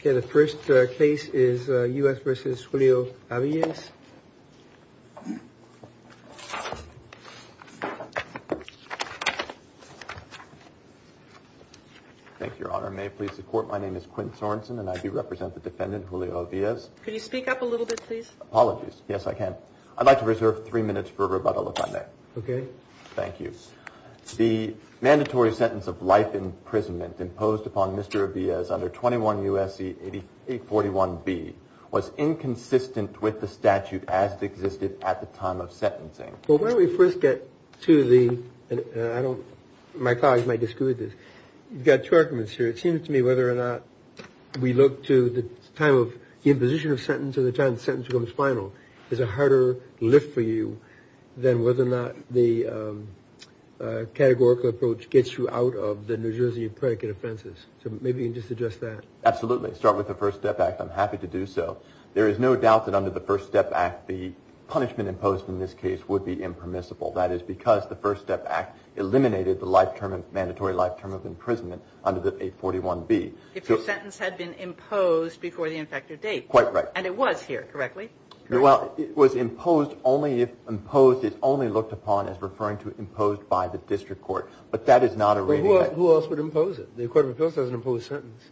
Okay, the first case is U.S. v. Julio Aviles. Thank you, Your Honor. May it please the Court, my name is Quint Sorenson and I do represent the defendant, Julio Aviles. Could you speak up a little bit, please? Apologies. Yes, I can. I'd like to reserve three minutes for rebuttal if I may. Okay. Thank you. The mandatory sentence of life imprisonment imposed upon Mr. Aviles under 21 U.S.C. 841B was inconsistent with the statute as it existed at the time of sentencing. Well, why don't we first get to the, I don't, my colleagues might disagree with this. You've got two arguments here. It seems to me whether or not we look to the time of the imposition of sentence or the time the sentence becomes final. There's a harder lift for you than whether or not the categorical approach gets you out of the New Jersey predicate offenses. So maybe you can just address that. Absolutely. Start with the First Step Act. I'm happy to do so. There is no doubt that under the First Step Act the punishment imposed in this case would be impermissible. That is because the First Step Act eliminated the life term, mandatory life term of imprisonment under the 841B. If the sentence had been imposed before the infected date. Quite right. And it was here, correctly? Well, it was imposed only if imposed is only looked upon as referring to imposed by the district court. But that is not a reading. Who else would impose it? The Court of Appeals has an imposed sentence.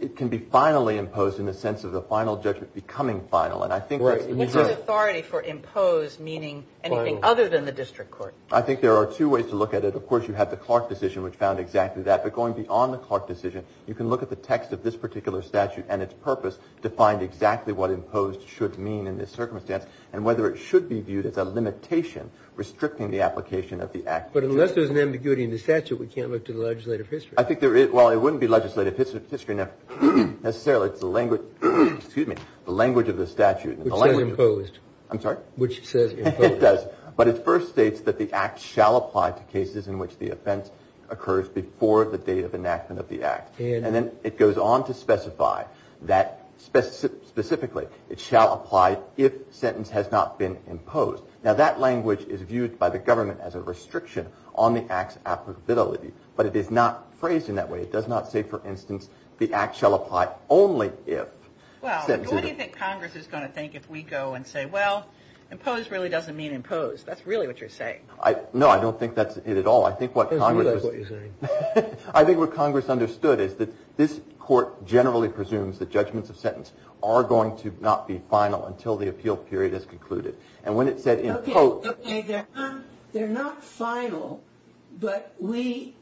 It can be finally imposed in the sense of the final judgment becoming final. And I think that's the reserve. What's the authority for imposed meaning anything other than the district court? I think there are two ways to look at it. Of course, you have the Clark decision which found exactly that. But going beyond the Clark decision, you can look at the text of this particular statute and its purpose to find exactly what imposed should mean in this circumstance and whether it should be viewed as a limitation restricting the application of the Act. But unless there's an ambiguity in the statute, we can't look to the legislative history. I think there is. Well, it wouldn't be legislative history necessarily. It's the language of the statute. Which says imposed. I'm sorry? Which says imposed. It does. But it first states that the Act shall apply to cases in which the offense occurs before the date of enactment of the Act. And then it goes on to specify that specifically it shall apply if sentence has not been imposed. Now, that language is viewed by the government as a restriction on the Act's applicability. But it is not phrased in that way. It does not say, for instance, the Act shall apply only if. Well, what do you think Congress is going to think if we go and say, well, imposed really doesn't mean imposed. That's really what you're saying. No, I don't think that's it at all. I think what Congress. That's really what you're saying. I think what Congress understood is that this court generally presumes that judgments of sentence are going to not be final until the appeal period is concluded. And when it said imposed. Okay. They're not final. But we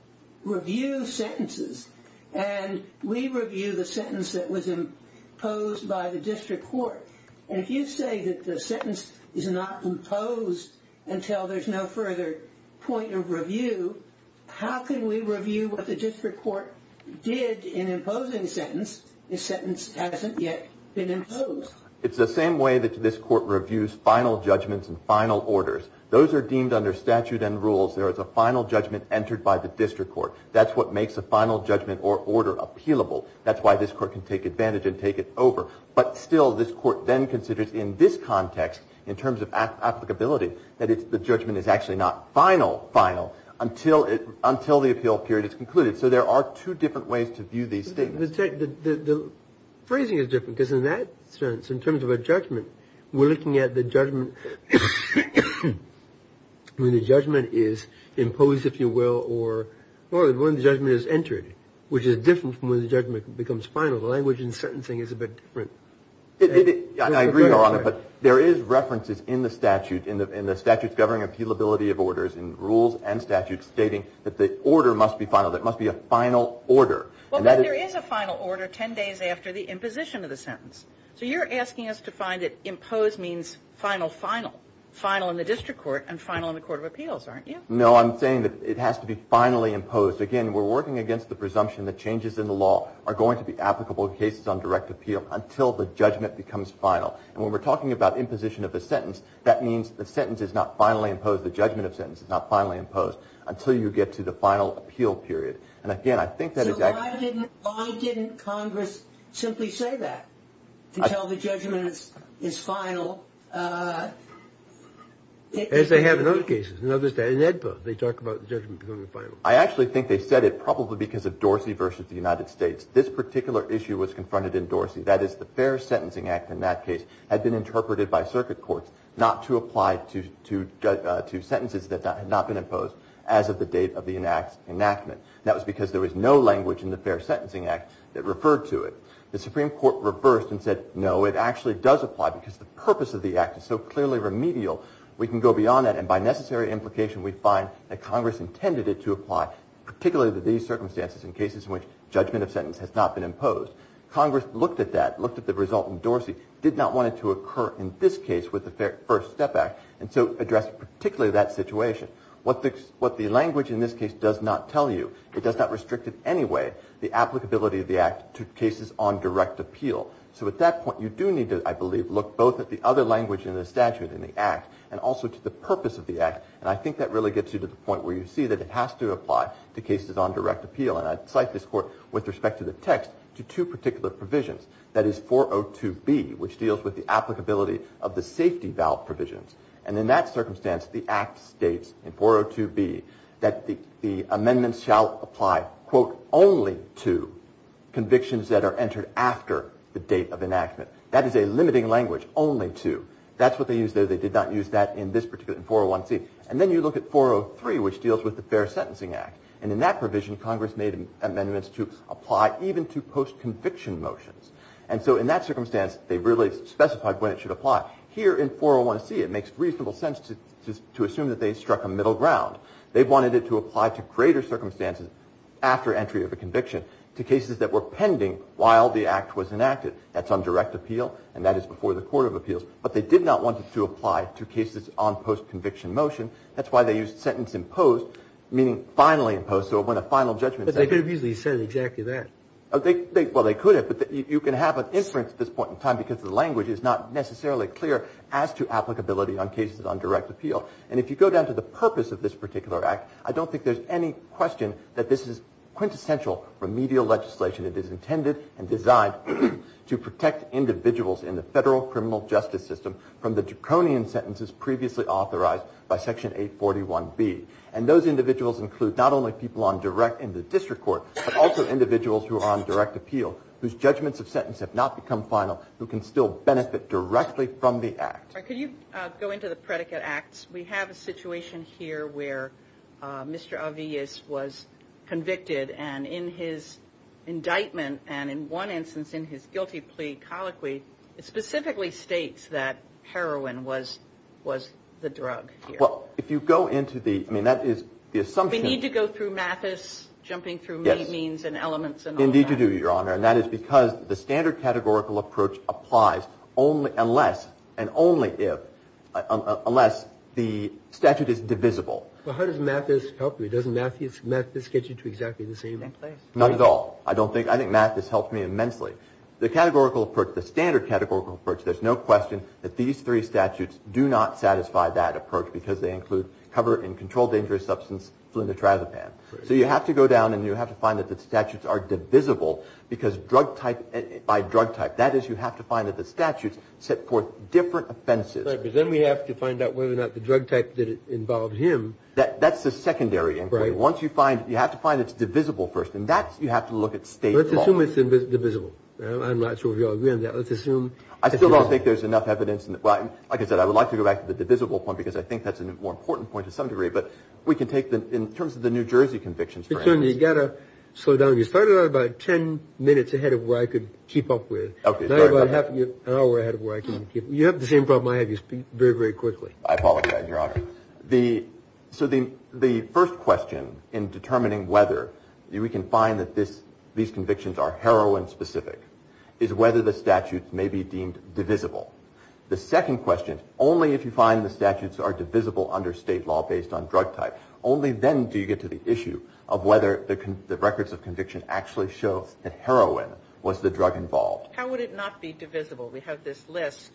review sentences. And we review the sentence that was imposed by the district court. And if you say that the sentence is not imposed until there's no further point of review, how can we review what the district court did in imposing the sentence if the sentence hasn't yet been imposed? It's the same way that this court reviews final judgments and final orders. Those are deemed under statute and rules. There is a final judgment entered by the district court. That's what makes a final judgment or order appealable. That's why this court can take advantage and take it over. But still, this court then considers in this context, in terms of applicability, that the judgment is actually not final until the appeal period is concluded. So there are two different ways to view these statements. The phrasing is different because in that sense, in terms of a judgment, we're looking at the judgment when the judgment is imposed, if you will, or when the judgment is entered, which is different from when the judgment becomes final. So the language in certain things is a bit different. I agree, Your Honor, but there is references in the statute, in the statutes governing appealability of orders, in rules and statutes, stating that the order must be final, that it must be a final order. Well, but there is a final order ten days after the imposition of the sentence. So you're asking us to find that imposed means final, final, final in the district court and final in the court of appeals, aren't you? No, I'm saying that it has to be finally imposed. Again, we're working against the presumption that changes in the law are going to be applicable in cases on direct appeal until the judgment becomes final. And when we're talking about imposition of the sentence, that means the sentence is not finally imposed, the judgment of the sentence is not finally imposed until you get to the final appeal period. And, again, I think that is actually – So why didn't Congress simply say that, until the judgment is final? As they have in other cases, in other – in AEDPA, they talk about the judgment becoming final. I actually think they said it probably because of Dorsey versus the United States. This particular issue was confronted in Dorsey. That is, the Fair Sentencing Act, in that case, had been interpreted by circuit courts not to apply to sentences that had not been imposed as of the date of the enactment. That was because there was no language in the Fair Sentencing Act that referred to it. The Supreme Court reversed and said, no, it actually does apply because the purpose of the act is so clearly remedial, we can go beyond that. And by necessary implication, we find that Congress intended it to apply, particularly to these circumstances in cases in which judgment of sentence has not been imposed. Congress looked at that, looked at the result in Dorsey, did not want it to occur in this case with the First Step Act, and so addressed particularly that situation. What the language in this case does not tell you, it does not restrict in any way the applicability of the act to cases on direct appeal. So at that point, you do need to, I believe, look both at the other language in the statute, in the act, and also to the purpose of the act, and I think that really gets you to the point where you see that it has to apply to cases on direct appeal. And I cite this court with respect to the text to two particular provisions. That is 402B, which deals with the applicability of the safety valve provisions. And in that circumstance, the act states in 402B that the amendments shall apply, quote, only to convictions that are entered after the date of enactment. That is a limiting language, only to. That's what they used there. They did not use that in this particular, in 401C. And then you look at 403, which deals with the Fair Sentencing Act. And in that provision, Congress made amendments to apply even to post-conviction motions. And so in that circumstance, they really specified when it should apply. Here in 401C, it makes reasonable sense to assume that they struck a middle ground. They wanted it to apply to greater circumstances after entry of a conviction to cases that were pending while the act was enacted. That's on direct appeal, and that is before the court of appeals. But they did not want it to apply to cases on post-conviction motion. That's why they used sentence imposed, meaning finally imposed. So when a final judgment is made. But they could have easily said exactly that. Well, they could have, but you can have an inference at this point in time because the language is not necessarily clear as to applicability on cases on direct appeal. And if you go down to the purpose of this particular act, I don't think there's any question that this is quintessential remedial legislation. It is intended and designed to protect individuals in the federal criminal justice system from the draconian sentences previously authorized by Section 841B. And those individuals include not only people on direct in the district court, but also individuals who are on direct appeal whose judgments of sentence have not become final who can still benefit directly from the act. All right. Could you go into the predicate acts? We have a situation here where Mr. Avillas was convicted. And in his indictment and in one instance in his guilty plea colloquy, it specifically states that heroin was the drug here. Well, if you go into the, I mean, that is the assumption. We need to go through Mathis jumping through means and elements. Indeed you do, Your Honor. And that is because the standard categorical approach applies only unless and only if, unless the statute is divisible. Well, how does Mathis help you? Doesn't Mathis get you to exactly the same place? Not at all. I don't think, I think Mathis helps me immensely. The categorical approach, the standard categorical approach, there's no question that these three statutes do not satisfy that approach because they include cover and control dangerous substance flunitrazepam. So you have to go down and you have to find that the statutes are divisible because drug type by drug type. That is you have to find that the statutes set forth different offenses. Right. Because then we have to find out whether or not the drug type involved him. That's the secondary inquiry. Once you find, you have to find it's divisible first. And that you have to look at state law. Let's assume it's divisible. I'm not sure if you all agree on that. Let's assume. I still don't think there's enough evidence. Like I said, I would like to go back to the divisible point because I think that's a more important point to some degree. But we can take the, in terms of the New Jersey convictions for instance. You've got to slow down. You started out about ten minutes ahead of where I could keep up with. Okay. Not about half an hour ahead of where I can keep up. You have the same problem I have. You speak very, very quickly. I apologize, Your Honor. The, so the first question in determining whether we can find that this, these convictions are heroin specific, is whether the statutes may be deemed divisible. The second question, only if you find the statutes are divisible under state law based on drug type, only then do you get to the issue of whether the records of conviction actually show that heroin was the drug involved. How would it not be divisible? We have this list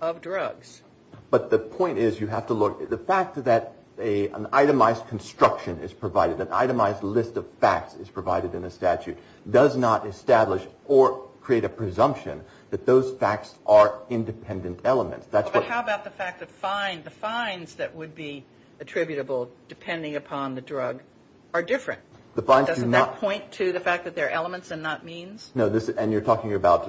of drugs. But the point is you have to look, the fact that an itemized construction is provided, an itemized list of facts is provided in a statute, does not establish or create a presumption that those facts are independent elements. But how about the fact that the fines that would be attributable depending upon the drug are different? Doesn't that point to the fact that they're elements and not means? No. And you're talking about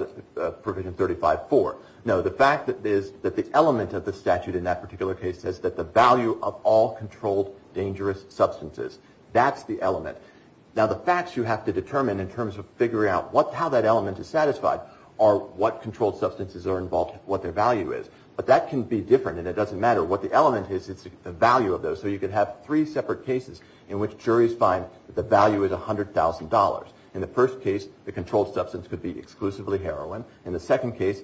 provision 35-4. No. The fact is that the element of the statute in that particular case says that the value of all controlled dangerous substances. That's the element. Now the facts you have to determine in terms of figuring out how that element is satisfied are what controlled substances are involved, what their value is. But that can be different, and it doesn't matter what the element is. It's the value of those. So you could have three separate cases in which juries find the value is $100,000. In the first case, the controlled substance could be exclusively heroin. In the second case,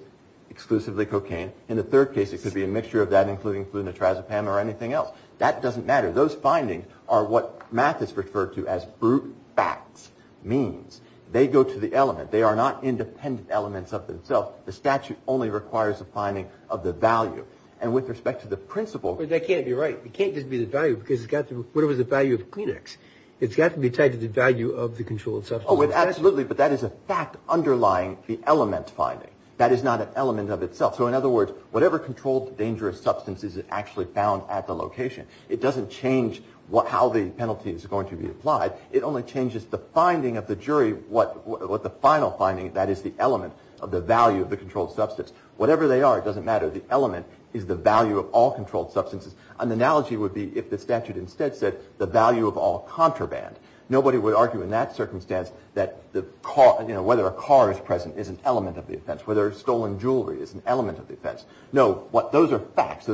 exclusively cocaine. In the third case, it could be a mixture of that including flu, nitrazepam, or anything else. That doesn't matter. Those findings are what math has referred to as brute facts, means. They go to the element. They are not independent elements of themselves. The statute only requires a finding of the value. And with respect to the principle. But that can't be right. It can't just be the value because it's got to be the value of Kleenex. It's got to be tied to the value of the controlled substance. Oh, absolutely. But that is a fact underlying the element finding. That is not an element of itself. So in other words, whatever controlled dangerous substance is actually found at the location. It doesn't change how the penalty is going to be applied. It only changes the finding of the jury. What the final finding, that is the element of the value of the controlled substance. Whatever they are, it doesn't matter. The element is the value of all controlled substances. An analogy would be if the statute instead said the value of all contraband. Nobody would argue in that circumstance that whether a car is present is an element of the offense. Whether stolen jewelry is an element of the offense. No. Those are facts.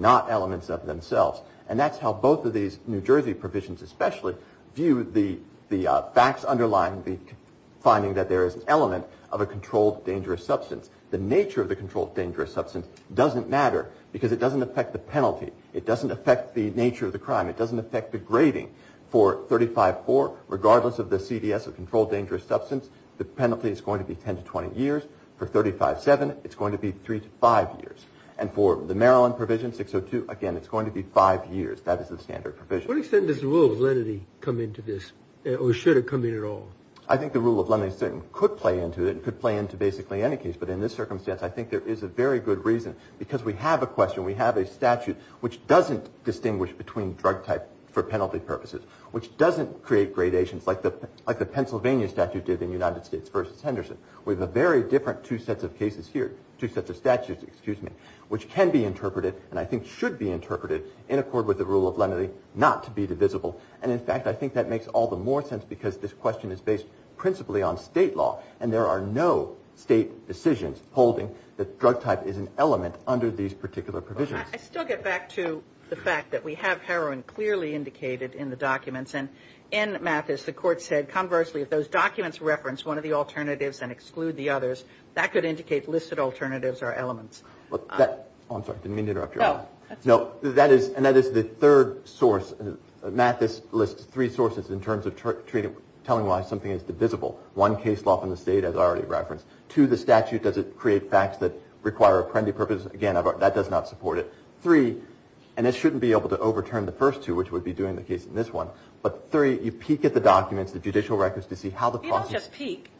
Not elements of themselves. And that's how both of these New Jersey provisions especially view the facts underlying the finding that there is an element of a controlled dangerous substance. The nature of the controlled dangerous substance doesn't matter because it doesn't affect the penalty. It doesn't affect the nature of the crime. It doesn't affect the grading. For 35-4, regardless of the CDS of controlled dangerous substance, the penalty is going to be 10 to 20 years. For 35-7, it's going to be 3 to 5 years. And for the Maryland provision, 602, again, it's going to be 5 years. That is the standard provision. To what extent does the rule of lenity come into this or should it come in at all? I think the rule of lenity could play into it. It could play into basically any case. But in this circumstance, I think there is a very good reason because we have a question. We have a statute which doesn't distinguish between drug type for penalty purposes, which doesn't create gradations like the Pennsylvania statute did in United States v. Henderson. We have a very different two sets of cases here, two sets of statutes, excuse me, which can be interpreted and I think should be interpreted in accord with the rule of lenity, not to be divisible. And, in fact, I think that makes all the more sense because this question is based principally on state law and there are no state decisions holding that drug type is an element under these particular provisions. I still get back to the fact that we have heroin clearly indicated in the documents. And in Mathis, the court said, conversely, if those documents reference one of the alternatives and exclude the others, that could indicate listed alternatives are elements. Oh, I'm sorry, I didn't mean to interrupt you. No. And that is the third source. Mathis lists three sources in terms of telling why something is divisible. One, case law from the state as already referenced. Two, the statute, does it create facts that require a penalty purpose? Again, that does not support it. Three, and it shouldn't be able to overturn the first two, which would be doing the case in this one. But three, you peek at the documents, the judicial records to see how the process. You don't just peek.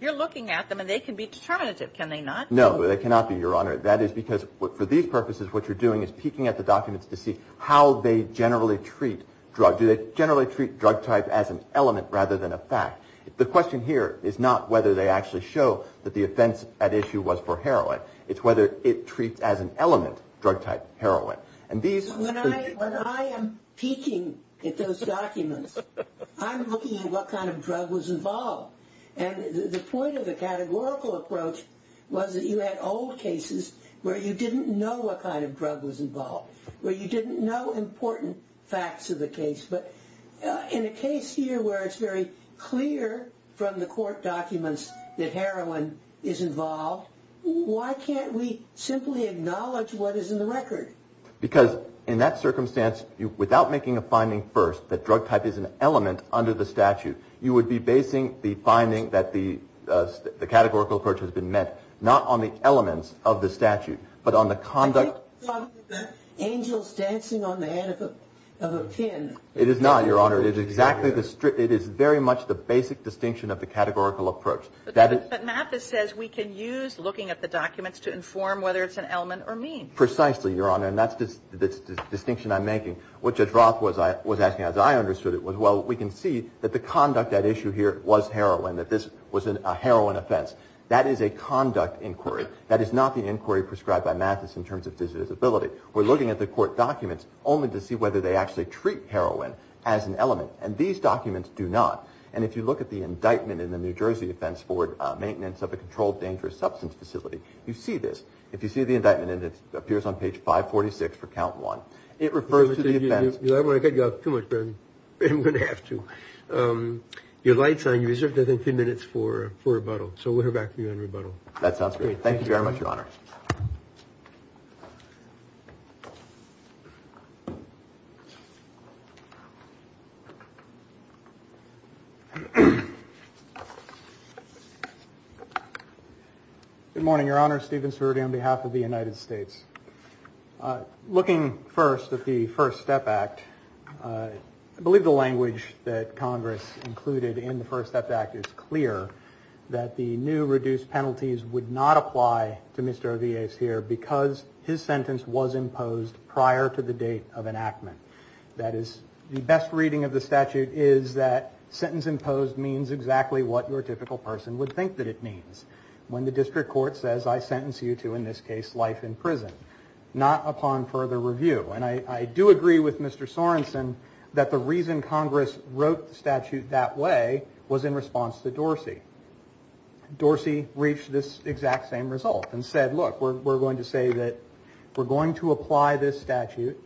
You're looking at them and they can be determinative, can they not? No, they cannot be, Your Honor. That is because for these purposes what you're doing is peeking at the documents to see how they generally treat drugs. Do they generally treat drug type as an element rather than a fact? The question here is not whether they actually show that the offense at issue was for heroin. It's whether it treats as an element drug type heroin. When I am peeking at those documents, I'm looking at what kind of drug was involved. And the point of the categorical approach was that you had old cases where you didn't know what kind of drug was involved, where you didn't know important facts of the case. But in a case here where it's very clear from the court documents that heroin is involved, why can't we simply acknowledge what is in the record? Because in that circumstance, without making a finding first that drug type is an element under the statute, you would be basing the finding that the categorical approach has been met not on the elements of the statute, but on the conduct. I think you're talking about angels dancing on the head of a pin. It is not, Your Honor. It is very much the basic distinction of the categorical approach. But Mathis says we can use looking at the documents to inform whether it's an element or mean. Precisely, Your Honor, and that's the distinction I'm making. What Jadroth was asking, as I understood it, was, well, we can see that the conduct at issue here was heroin, that this was a heroin offense. That is a conduct inquiry. That is not the inquiry prescribed by Mathis in terms of visibility. We're looking at the court documents only to see whether they actually treat heroin as an element. And these documents do not. And if you look at the indictment in the New Jersey offense for maintenance of a controlled dangerous substance facility, you see this. If you see the indictment, and it appears on page 546 for count one, it refers to the offense. I'm going to cut you off too much, Ben. I'm going to have to. Your light's on. You reserved, I think, three minutes for rebuttal. So we'll hear back from you on rebuttal. That sounds great. Thank you very much, Your Honor. Good morning, Your Honor. Steven Cerruti on behalf of the United States. Looking first at the First Step Act, I believe the language that Congress included in the First Step Act is clear, that the new reduced penalties would not apply to Mr. Avies here because his sentence was imposed prior to the date of enactment. That is, the best reading of the statute is that sentence imposed means exactly what your typical person would think that it means, when the district court says, I sentence you to, in this case, life in prison, not upon further review. And I do agree with Mr. Sorensen that the reason Congress wrote the statute that way was in response to Dorsey. Dorsey reached this exact same result and said, look, we're going to say that we're going to apply this statute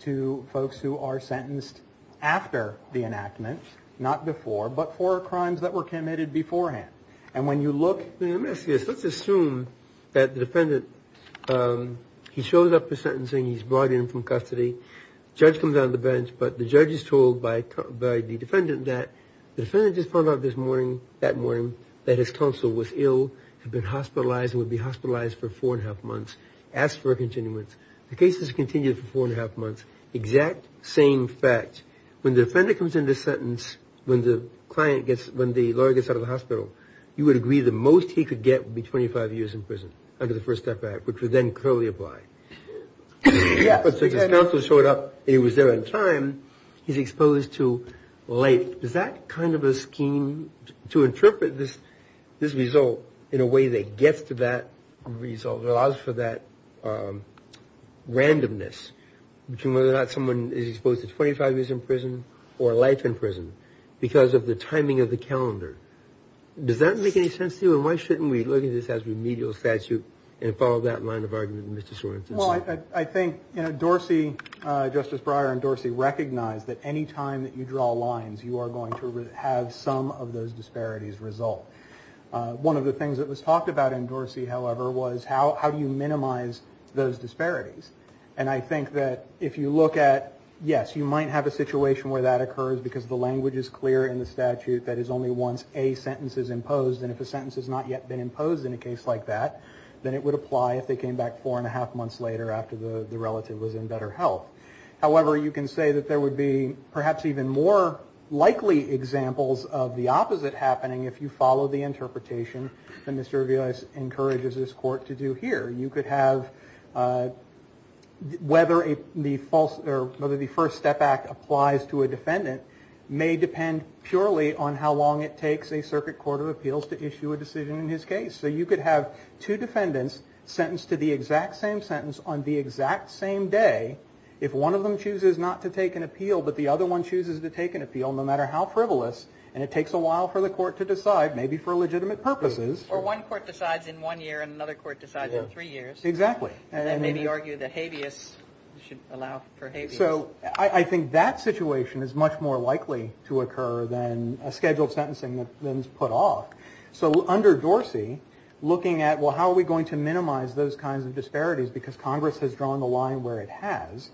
to folks who are sentenced after the enactment, not before, but for crimes that were committed beforehand. And when you look- Let's assume that the defendant, he shows up for sentencing, he's brought in from custody, judge comes on the bench, but the judge is told by the defendant that the defendant just found out this morning, that morning, that his counsel was ill, had been hospitalized and would be hospitalized for four and a half months. Asks for a continuance. The case is continued for four and a half months, exact same fact. When the defendant comes into sentence, when the client gets, when the lawyer gets out of the hospital, you would agree the most he could get would be 25 years in prison under the First Step Act, which would then clearly apply. But since his counsel showed up and he was there on time, he's exposed to life. Does that kind of a scheme to interpret this, this result in a way that gets to that result, allows for that randomness between whether or not someone is exposed to 25 years in prison or life in prison, because of the timing of the calendar? Does that make any sense to you? And why shouldn't we look at this as remedial statute and follow that line of argument, Mr. Sorensen? Well, I think, you know, Dorsey, Justice Breyer and Dorsey recognize that any time that you draw lines, you are going to have some of those disparities result. One of the things that was talked about in Dorsey, however, was how do you minimize those disparities? And I think that if you look at, yes, you might have a situation where that occurs because the language is clear in the statute that is only once a sentence is imposed. And if a sentence has not yet been imposed in a case like that, then it would apply if they came back four-and-a-half months later after the relative was in better health. However, you can say that there would be perhaps even more likely examples of the opposite happening if you follow the interpretation that Mr. Aviles encourages this court to do here. You could have whether the first step act applies to a defendant may depend purely on how long it takes a circuit court of appeals to issue a decision in his case. So you could have two defendants sentenced to the exact same sentence on the exact same day if one of them chooses not to take an appeal but the other one chooses to take an appeal, no matter how frivolous, and it takes a while for the court to decide, maybe for legitimate purposes. Or one court decides in one year and another court decides in three years. Exactly. And maybe argue that habeas should allow for habeas. So I think that situation is much more likely to occur than a scheduled sentencing that's been put off. So under Dorsey, looking at, well, how are we going to minimize those kinds of disparities because Congress has drawn the line where it has,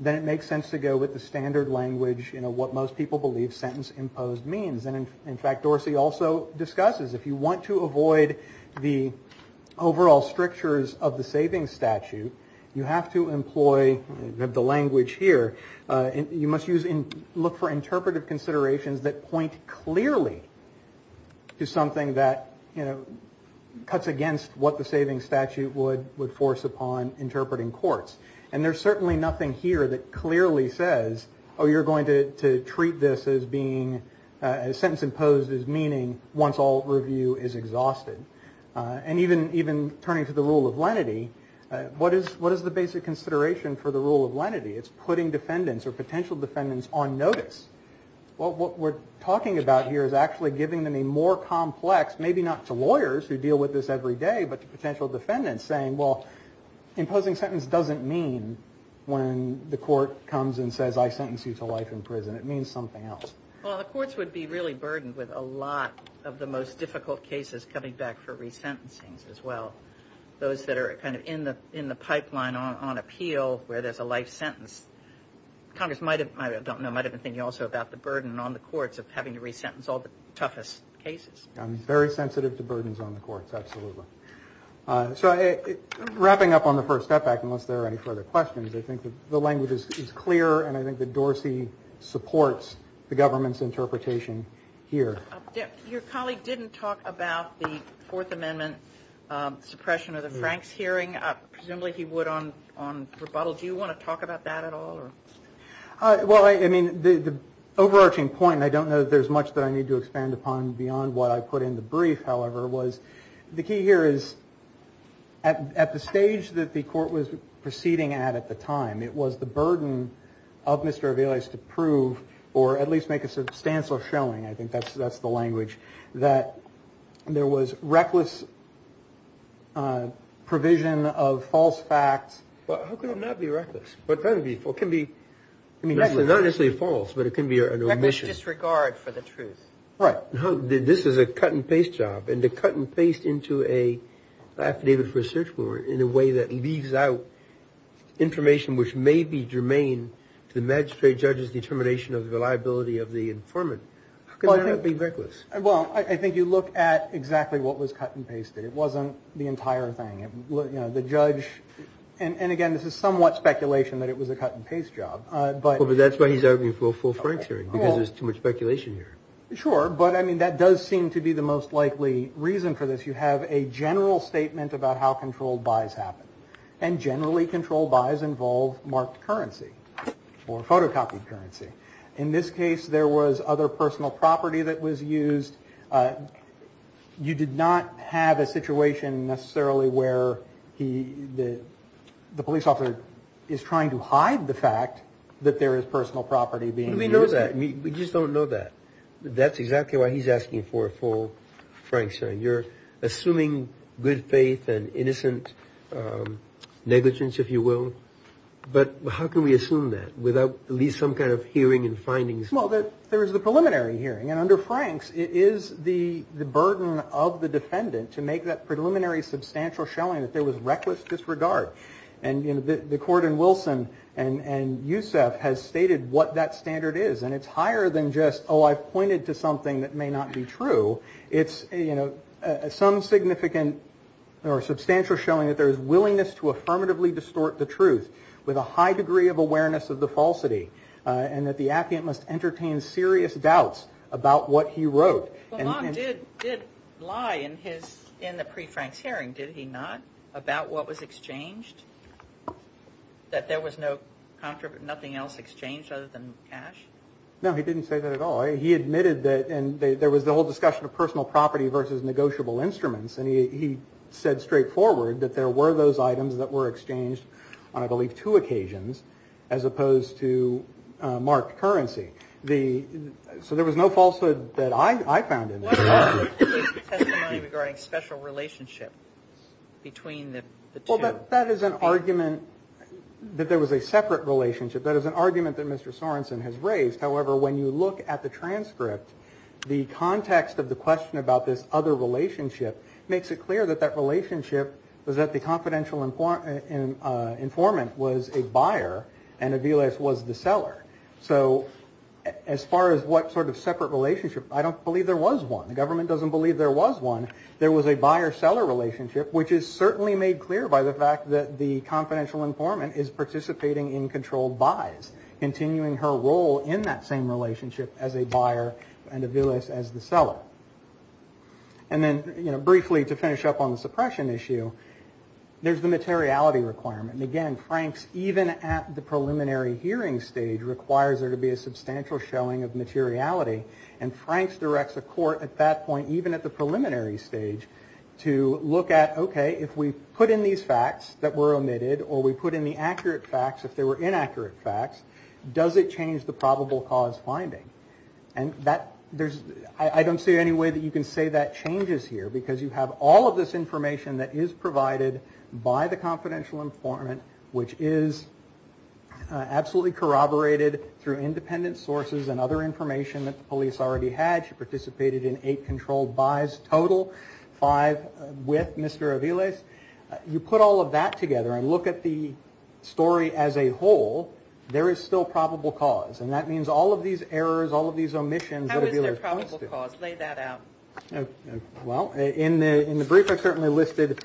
then it makes sense to go with the standard language, you know, what most people believe sentence imposed means. And in fact, Dorsey also discusses if you want to avoid the overall strictures of the savings statute, you have to employ the language here. You must look for interpretive considerations that point clearly to something that, you know, cuts against what the savings statute would force upon interpreting courts. And there's certainly nothing here that clearly says, oh, you're going to treat this as being sentence imposed as meaning once all review is exhausted. And even turning to the rule of lenity, what is the basic consideration for the rule of lenity? It's putting defendants or potential defendants on notice. Well, what we're talking about here is actually giving them a more complex, maybe not to lawyers who deal with this every day, but to potential defendants saying, well, imposing sentence doesn't mean when the court comes and says I sentence you to life in prison. It means something else. Well, the courts would be really burdened with a lot of the most difficult cases coming back for resentencing as well. Those that are kind of in the pipeline on appeal where there's a life sentence. Congress might have been thinking also about the burden on the courts of having to resentence all the toughest cases. I'm very sensitive to burdens on the courts, absolutely. So wrapping up on the first step back, unless there are any further questions, I think the language is clear and I think that Dorsey supports the government's interpretation here. Your colleague didn't talk about the Fourth Amendment suppression of the Franks hearing. Presumably he would on rebuttal. Do you want to talk about that at all? Well, I mean, the overarching point, and I don't know that there's much that I need to expand upon beyond what I put in the brief, however, was the key here is at the stage that the court was proceeding at at the time, it was the burden of Mr. Avila's to prove or at least make a substantial showing. I think that's that's the language that there was reckless. Provision of false facts. But how could it not be reckless? What kind of people can be I mean, not necessarily false, but it can be an omission disregard for the truth. Right. This is a cut and paste job and to cut and paste into a affidavit for a search warrant in a way that leaves out information, which may be germane to the magistrate judge's determination of the reliability of the informant. Could that be reckless? Well, I think you look at exactly what was cut and pasted. It wasn't the entire thing. The judge. And again, this is somewhat speculation that it was a cut and paste job. But that's why he's arguing for full Frank's hearing, because there's too much speculation here. Sure. But I mean, that does seem to be the most likely reason for this. You have a general statement about how controlled buys happen and generally control buys involve marked currency or photocopied currency. In this case, there was other personal property that was used. You did not have a situation necessarily where he did. The police officer is trying to hide the fact that there is personal property being. We know that we just don't know that. That's exactly why he's asking for a full Frank. So you're assuming good faith and innocent negligence, if you will. But how can we assume that without at least some kind of hearing and findings? Well, there is the preliminary hearing. And under Frank's, it is the burden of the defendant to make that preliminary substantial showing that there was reckless disregard. And, you know, the court in Wilson and Yousef has stated what that standard is. And it's higher than just, oh, I've pointed to something that may not be true. It's, you know, some significant or substantial showing that there is willingness to affirmatively distort the truth with a high degree of awareness of the falsity. And that the applicant must entertain serious doubts about what he wrote and did lie in his in the pre Frank's hearing. Did he not about what was exchanged, that there was no contract, nothing else exchanged other than cash? No, he didn't say that at all. He admitted that. And there was the whole discussion of personal property versus negotiable instruments. And he said straightforward that there were those items that were exchanged on, I believe, two occasions as opposed to marked currency. The so there was no falsehood that I found in the money regarding special relationship between the two. That is an argument that there was a separate relationship. That is an argument that Mr. Sorenson has raised. However, when you look at the transcript, the context of the question about this other relationship makes it clear that that relationship was that the confidential informant was a buyer and Aviles was the seller. So as far as what sort of separate relationship, I don't believe there was one. The government doesn't believe there was one. There was a buyer seller relationship, which is certainly made clear by the fact that the confidential informant is participating in controlled buys, continuing her role in that same relationship as a buyer and Aviles as the seller. And then, you know, briefly to finish up on the suppression issue, there's the materiality requirement. Again, Franks, even at the preliminary hearing stage, requires there to be a substantial showing of materiality. And Franks directs a court at that point, even at the preliminary stage, to look at, OK, if we put in these facts that were omitted or we put in the accurate facts, if they were inaccurate facts, does it change the probable cause finding? And that there's I don't see any way that you can say that changes here because you have all of this information that is provided by the confidential informant, which is absolutely corroborated through independent sources and other information that the police already had. She participated in eight controlled buys total, five with Mr. Aviles. You put all of that together and look at the story as a whole. There is still probable cause. And that means all of these errors, all of these omissions. How is there probable cause? Lay that out. Well, in the in the brief, I certainly listed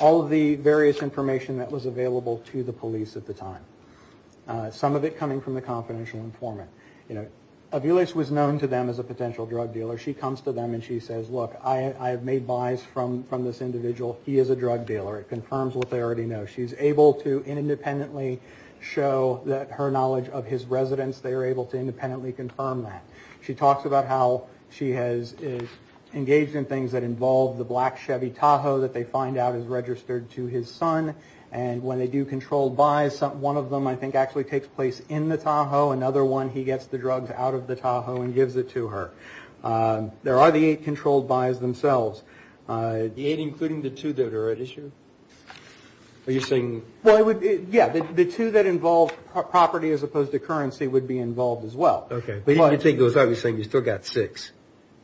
all of the various information that was available to the police at the time. Some of it coming from the confidential informant. Aviles was known to them as a potential drug dealer. She comes to them and she says, look, I have made buys from from this individual. He is a drug dealer. It confirms what they already know. She's able to independently show that her knowledge of his residence. They are able to independently confirm that. She talks about how she has engaged in things that involve the black Chevy Tahoe that they find out is registered to his son. And when they do controlled buys, one of them, I think, actually takes place in the Tahoe. Another one, he gets the drugs out of the Tahoe and gives it to her. There are the eight controlled buys themselves, including the two that are at issue. Are you saying? Well, it would be. Yeah. The two that involve property as opposed to currency would be involved as well. OK, but I think it was obviously you still got six.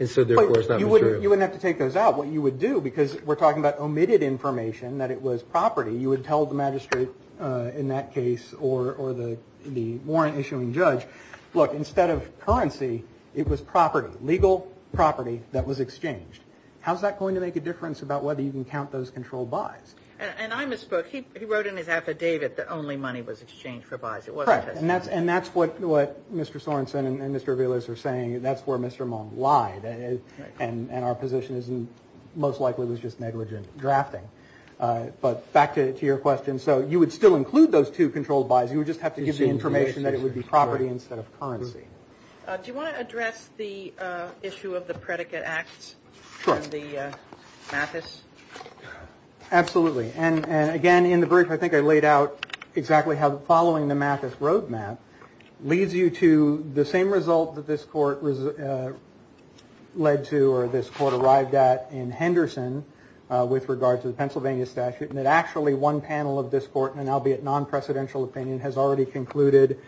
And so therefore, it's not you wouldn't have to take those out. Because we're talking about omitted information that it was property. You would tell the magistrate in that case or or the the warrant issuing judge. Look, instead of currency, it was property, legal property that was exchanged. How is that going to make a difference about whether you can count those control buys? And I misspoke. He wrote in his affidavit that only money was exchanged for buys. It was correct. And that's and that's what Mr. Sorensen and Mr. Villas are saying. That's where Mr. Monk lied. And our position is most likely it was just negligent drafting. But back to your question. So you would still include those two controlled buys. You would just have to give the information that it would be property instead of currency. Do you want to address the issue of the predicate act? The Mathis. Absolutely. And again, in the brief, I think I laid out exactly how the following the Mathis roadmap leads you to the same result that this court led to or this court arrived at in Henderson with regard to the Pennsylvania statute. And that actually one panel of this court, and I'll be at non-presidential opinion, has already concluded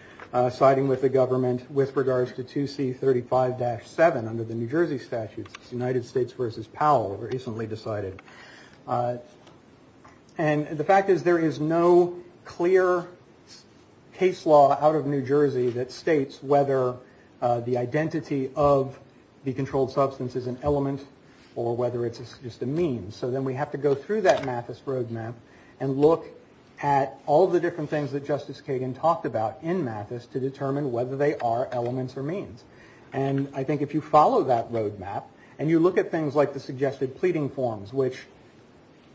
siding with the government with regards to two C thirty five dash seven under the New Jersey statutes. United States versus Powell recently decided. And the fact is there is no clear case law out of New Jersey that states whether the identity of the controlled substance is an element or whether it's just a mean. So then we have to go through that Mathis roadmap and look at all the different things that Justice Kagan talked about in Mathis to determine whether they are elements or means. And I think if you follow that roadmap and you look at things like the suggested pleading forms, which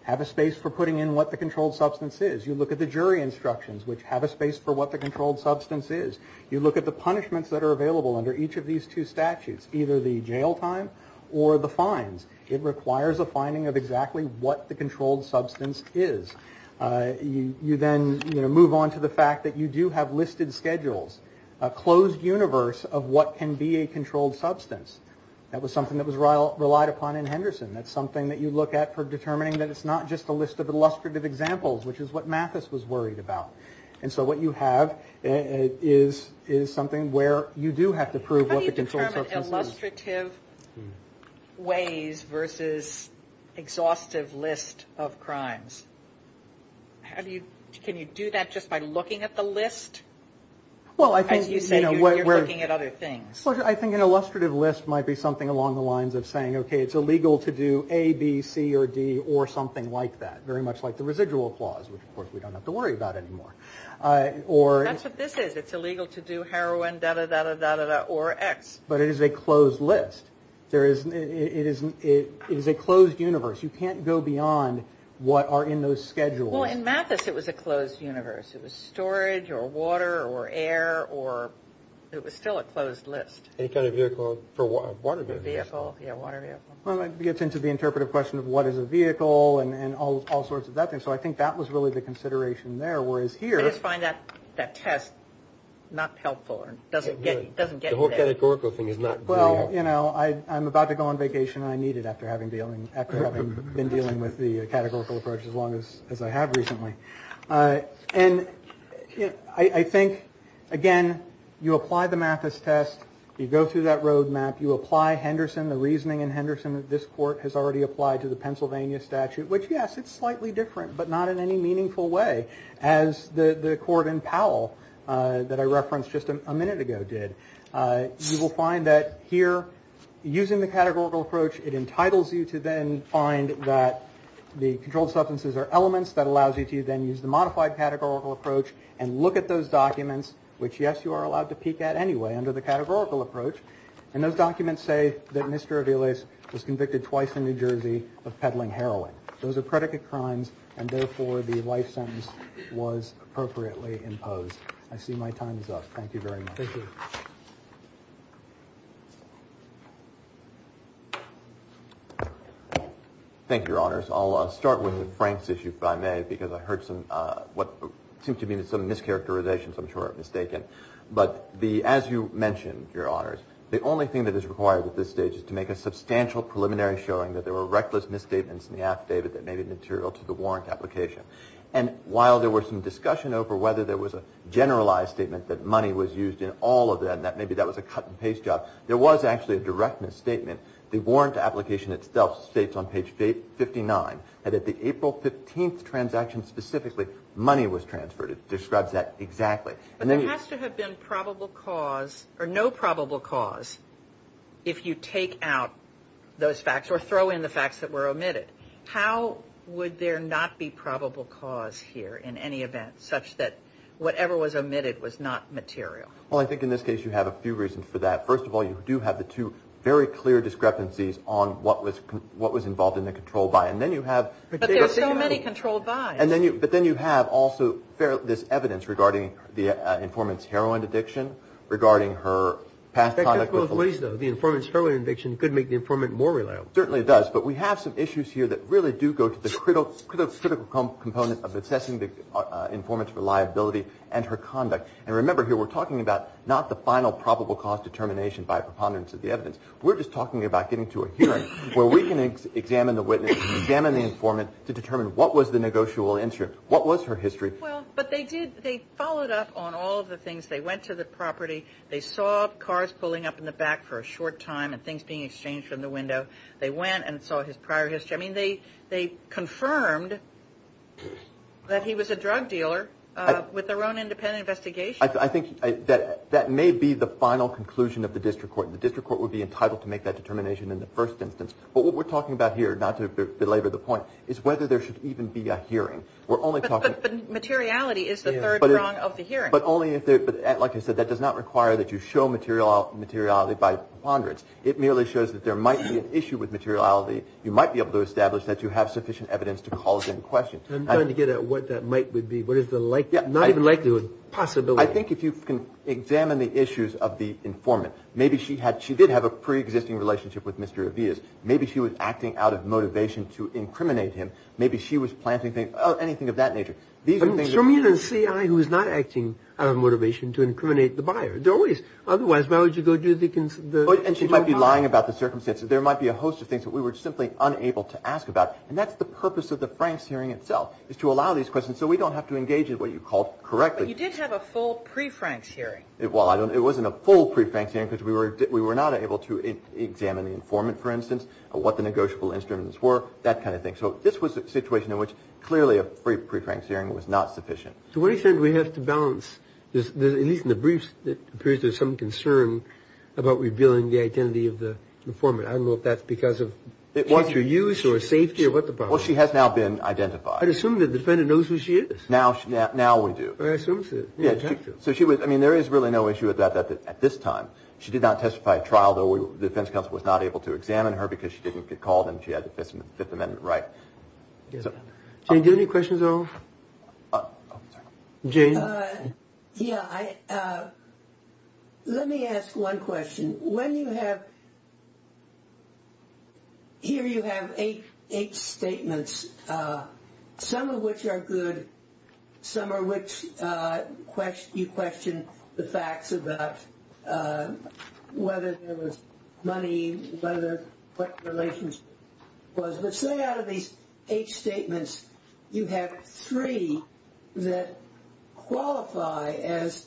have a space for putting in what the controlled substance is, you look at the jury instructions which have a space for what the controlled substance is. You look at the punishments that are available under each of these two statutes, either the jail time or the fines. It requires a finding of exactly what the controlled substance is. You then move on to the fact that you do have listed schedules, a closed universe of what can be a controlled substance. That was something that was relied upon in Henderson. That's something that you look at for determining that it's not just a list of illustrative examples, which is what Mathis was worried about. And so what you have is something where you do have to prove what the controlled substance is. How do you determine illustrative ways versus exhaustive list of crimes? Can you do that just by looking at the list? As you say, you're looking at other things. I think an illustrative list might be something along the lines of saying, okay, it's illegal to do A, B, C, or D, or something like that. Very much like the residual clause, which, of course, we don't have to worry about anymore. That's what this is. It's illegal to do heroin, da, da, da, da, or X. But it is a closed list. It is a closed universe. You can't go beyond what are in those schedules. Well, in Mathis, it was a closed universe. It was storage, or water, or air, or it was still a closed list. Any kind of vehicle. Water vehicle. Yeah, water vehicle. Well, it gets into the interpretive question of what is a vehicle and all sorts of that thing. So I think that was really the consideration there, whereas here. I just find that test not helpful. It doesn't get you there. The whole categorical thing is not very helpful. Well, you know, I'm about to go on vacation, and I need it after having been dealing with the categorical approach as long as I have recently. And I think, again, you apply the Mathis test. You go through that road map. You apply Henderson, the reasoning in Henderson that this court has already applied to the Pennsylvania statute, which, yes, it's slightly different, but not in any meaningful way as the court in Powell that I referenced just a minute ago did. You will find that here, using the categorical approach, it entitles you to then find that the controlled substances are elements. That allows you to then use the modified categorical approach and look at those documents, which, yes, you are allowed to peek at anyway under the categorical approach. And those documents say that Mr. Aviles was convicted twice in New Jersey of peddling heroin. Those are predicate crimes, and therefore the life sentence was appropriately imposed. I see my time is up. Thank you very much. Thank you. Thank you, Your Honors. I'll start with Frank's issue, if I may, because I heard what seems to be some mischaracterizations I'm sure I've mistaken. But as you mentioned, Your Honors, the only thing that is required at this stage is to make a substantial preliminary showing that there were reckless misstatements in the affidavit that may be material to the warrant application. And while there was some discussion over whether there was a generalized statement that money was used in all of them, that maybe that was a cut-and-paste job, there was actually a direct misstatement. The warrant application itself states on page 59 that at the April 15th transaction specifically, money was transferred. It describes that exactly. But there has to have been probable cause or no probable cause if you take out those facts or throw in the facts that were omitted. How would there not be probable cause here in any event such that whatever was omitted was not material? Well, I think in this case you have a few reasons for that. First of all, you do have the two very clear discrepancies on what was involved in the controlled buy. But there are so many controlled buys. But then you have also this evidence regarding the informant's heroin addiction, regarding her past conduct with police. The informant's heroin addiction could make the informant more reliable. Certainly it does. But we have some issues here that really do go to the critical component of assessing the informant's reliability and her conduct. And remember here we're talking about not the final probable cause determination by preponderance of the evidence. We're just talking about getting to a hearing where we can examine the witness, examine the informant, to determine what was the negotiable interest, what was her history. Well, but they followed up on all of the things. They went to the property. They saw cars pulling up in the back for a short time and things being exchanged from the window. They went and saw his prior history. I mean, they confirmed that he was a drug dealer with their own independent investigation. I think that may be the final conclusion of the district court. The district court would be entitled to make that determination in the first instance. But what we're talking about here, not to belabor the point, is whether there should even be a hearing. But materiality is the third prong of the hearing. But only if, like I said, that does not require that you show materiality by preponderance. It merely shows that there might be an issue with materiality. You might be able to establish that you have sufficient evidence to call it into question. I'm trying to get at what that might be. What is the likelihood, not even likelihood, possibility. I think if you can examine the issues of the informant, maybe she did have a preexisting relationship with Mr. Avias. Maybe she was acting out of motivation to incriminate him. Maybe she was planting things. Anything of that nature. Show me a CI who is not acting out of motivation to incriminate the buyer. Otherwise, why would you go do the... And she might be lying about the circumstances. There might be a host of things that we were simply unable to ask about. And that's the purpose of the Franks hearing itself, is to allow these questions so we don't have to engage in what you called correctly. But you did have a full pre-Franks hearing. Well, it wasn't a full pre-Franks hearing because we were not able to examine the informant, for instance, what the negotiable instruments were, that kind of thing. So this was a situation in which clearly a pre-Franks hearing was not sufficient. To what extent do we have to balance, at least in the briefs, it appears there's some concern about revealing the identity of the informant. I don't know if that's because of future use or safety or what the problem is. Well, she has now been identified. I'd assume the defendant knows who she is. Now we do. So she was, I mean, there is really no issue with that at this time. She did not testify at trial, though the defense counsel was not able to examine her because she didn't get called and she had the Fifth Amendment right. Jane, do you have any questions at all? Yeah, let me ask one question. When you have, here you have eight statements, some of which are good, some of which you question the facts about whether there was money, what the relationship was. But say out of these eight statements you have three that qualify as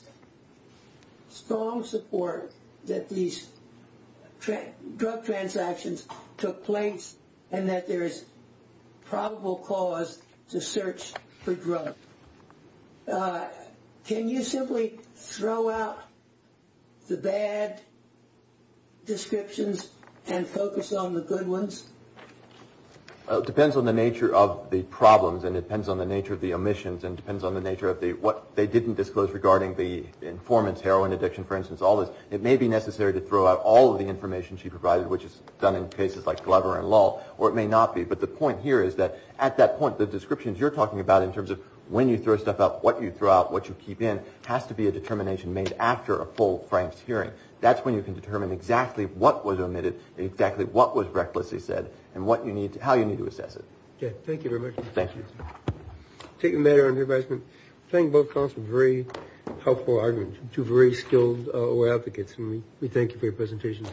strong support that these drug transactions took place and that there is probable cause to search for drugs. Can you simply throw out the bad descriptions and focus on the good ones? It depends on the nature of the problems and it depends on the nature of the omissions and it depends on the nature of what they didn't disclose regarding the informant's heroin addiction, for instance. It may be necessary to throw out all of the information she provided, which is done in cases like Glover and Lull, or it may not be. But the point here is that at that point the descriptions you're talking about in terms of when you throw stuff out, what you throw out, what you keep in, has to be a determination made after a full Frank's hearing. That's when you can determine exactly what was omitted and exactly what was recklessly said and how you need to assess it. Thank you very much. Thank you. Taking the matter under advisement, I think both counsels have very helpful arguments. You're very skilled law advocates and we thank you for your presentations.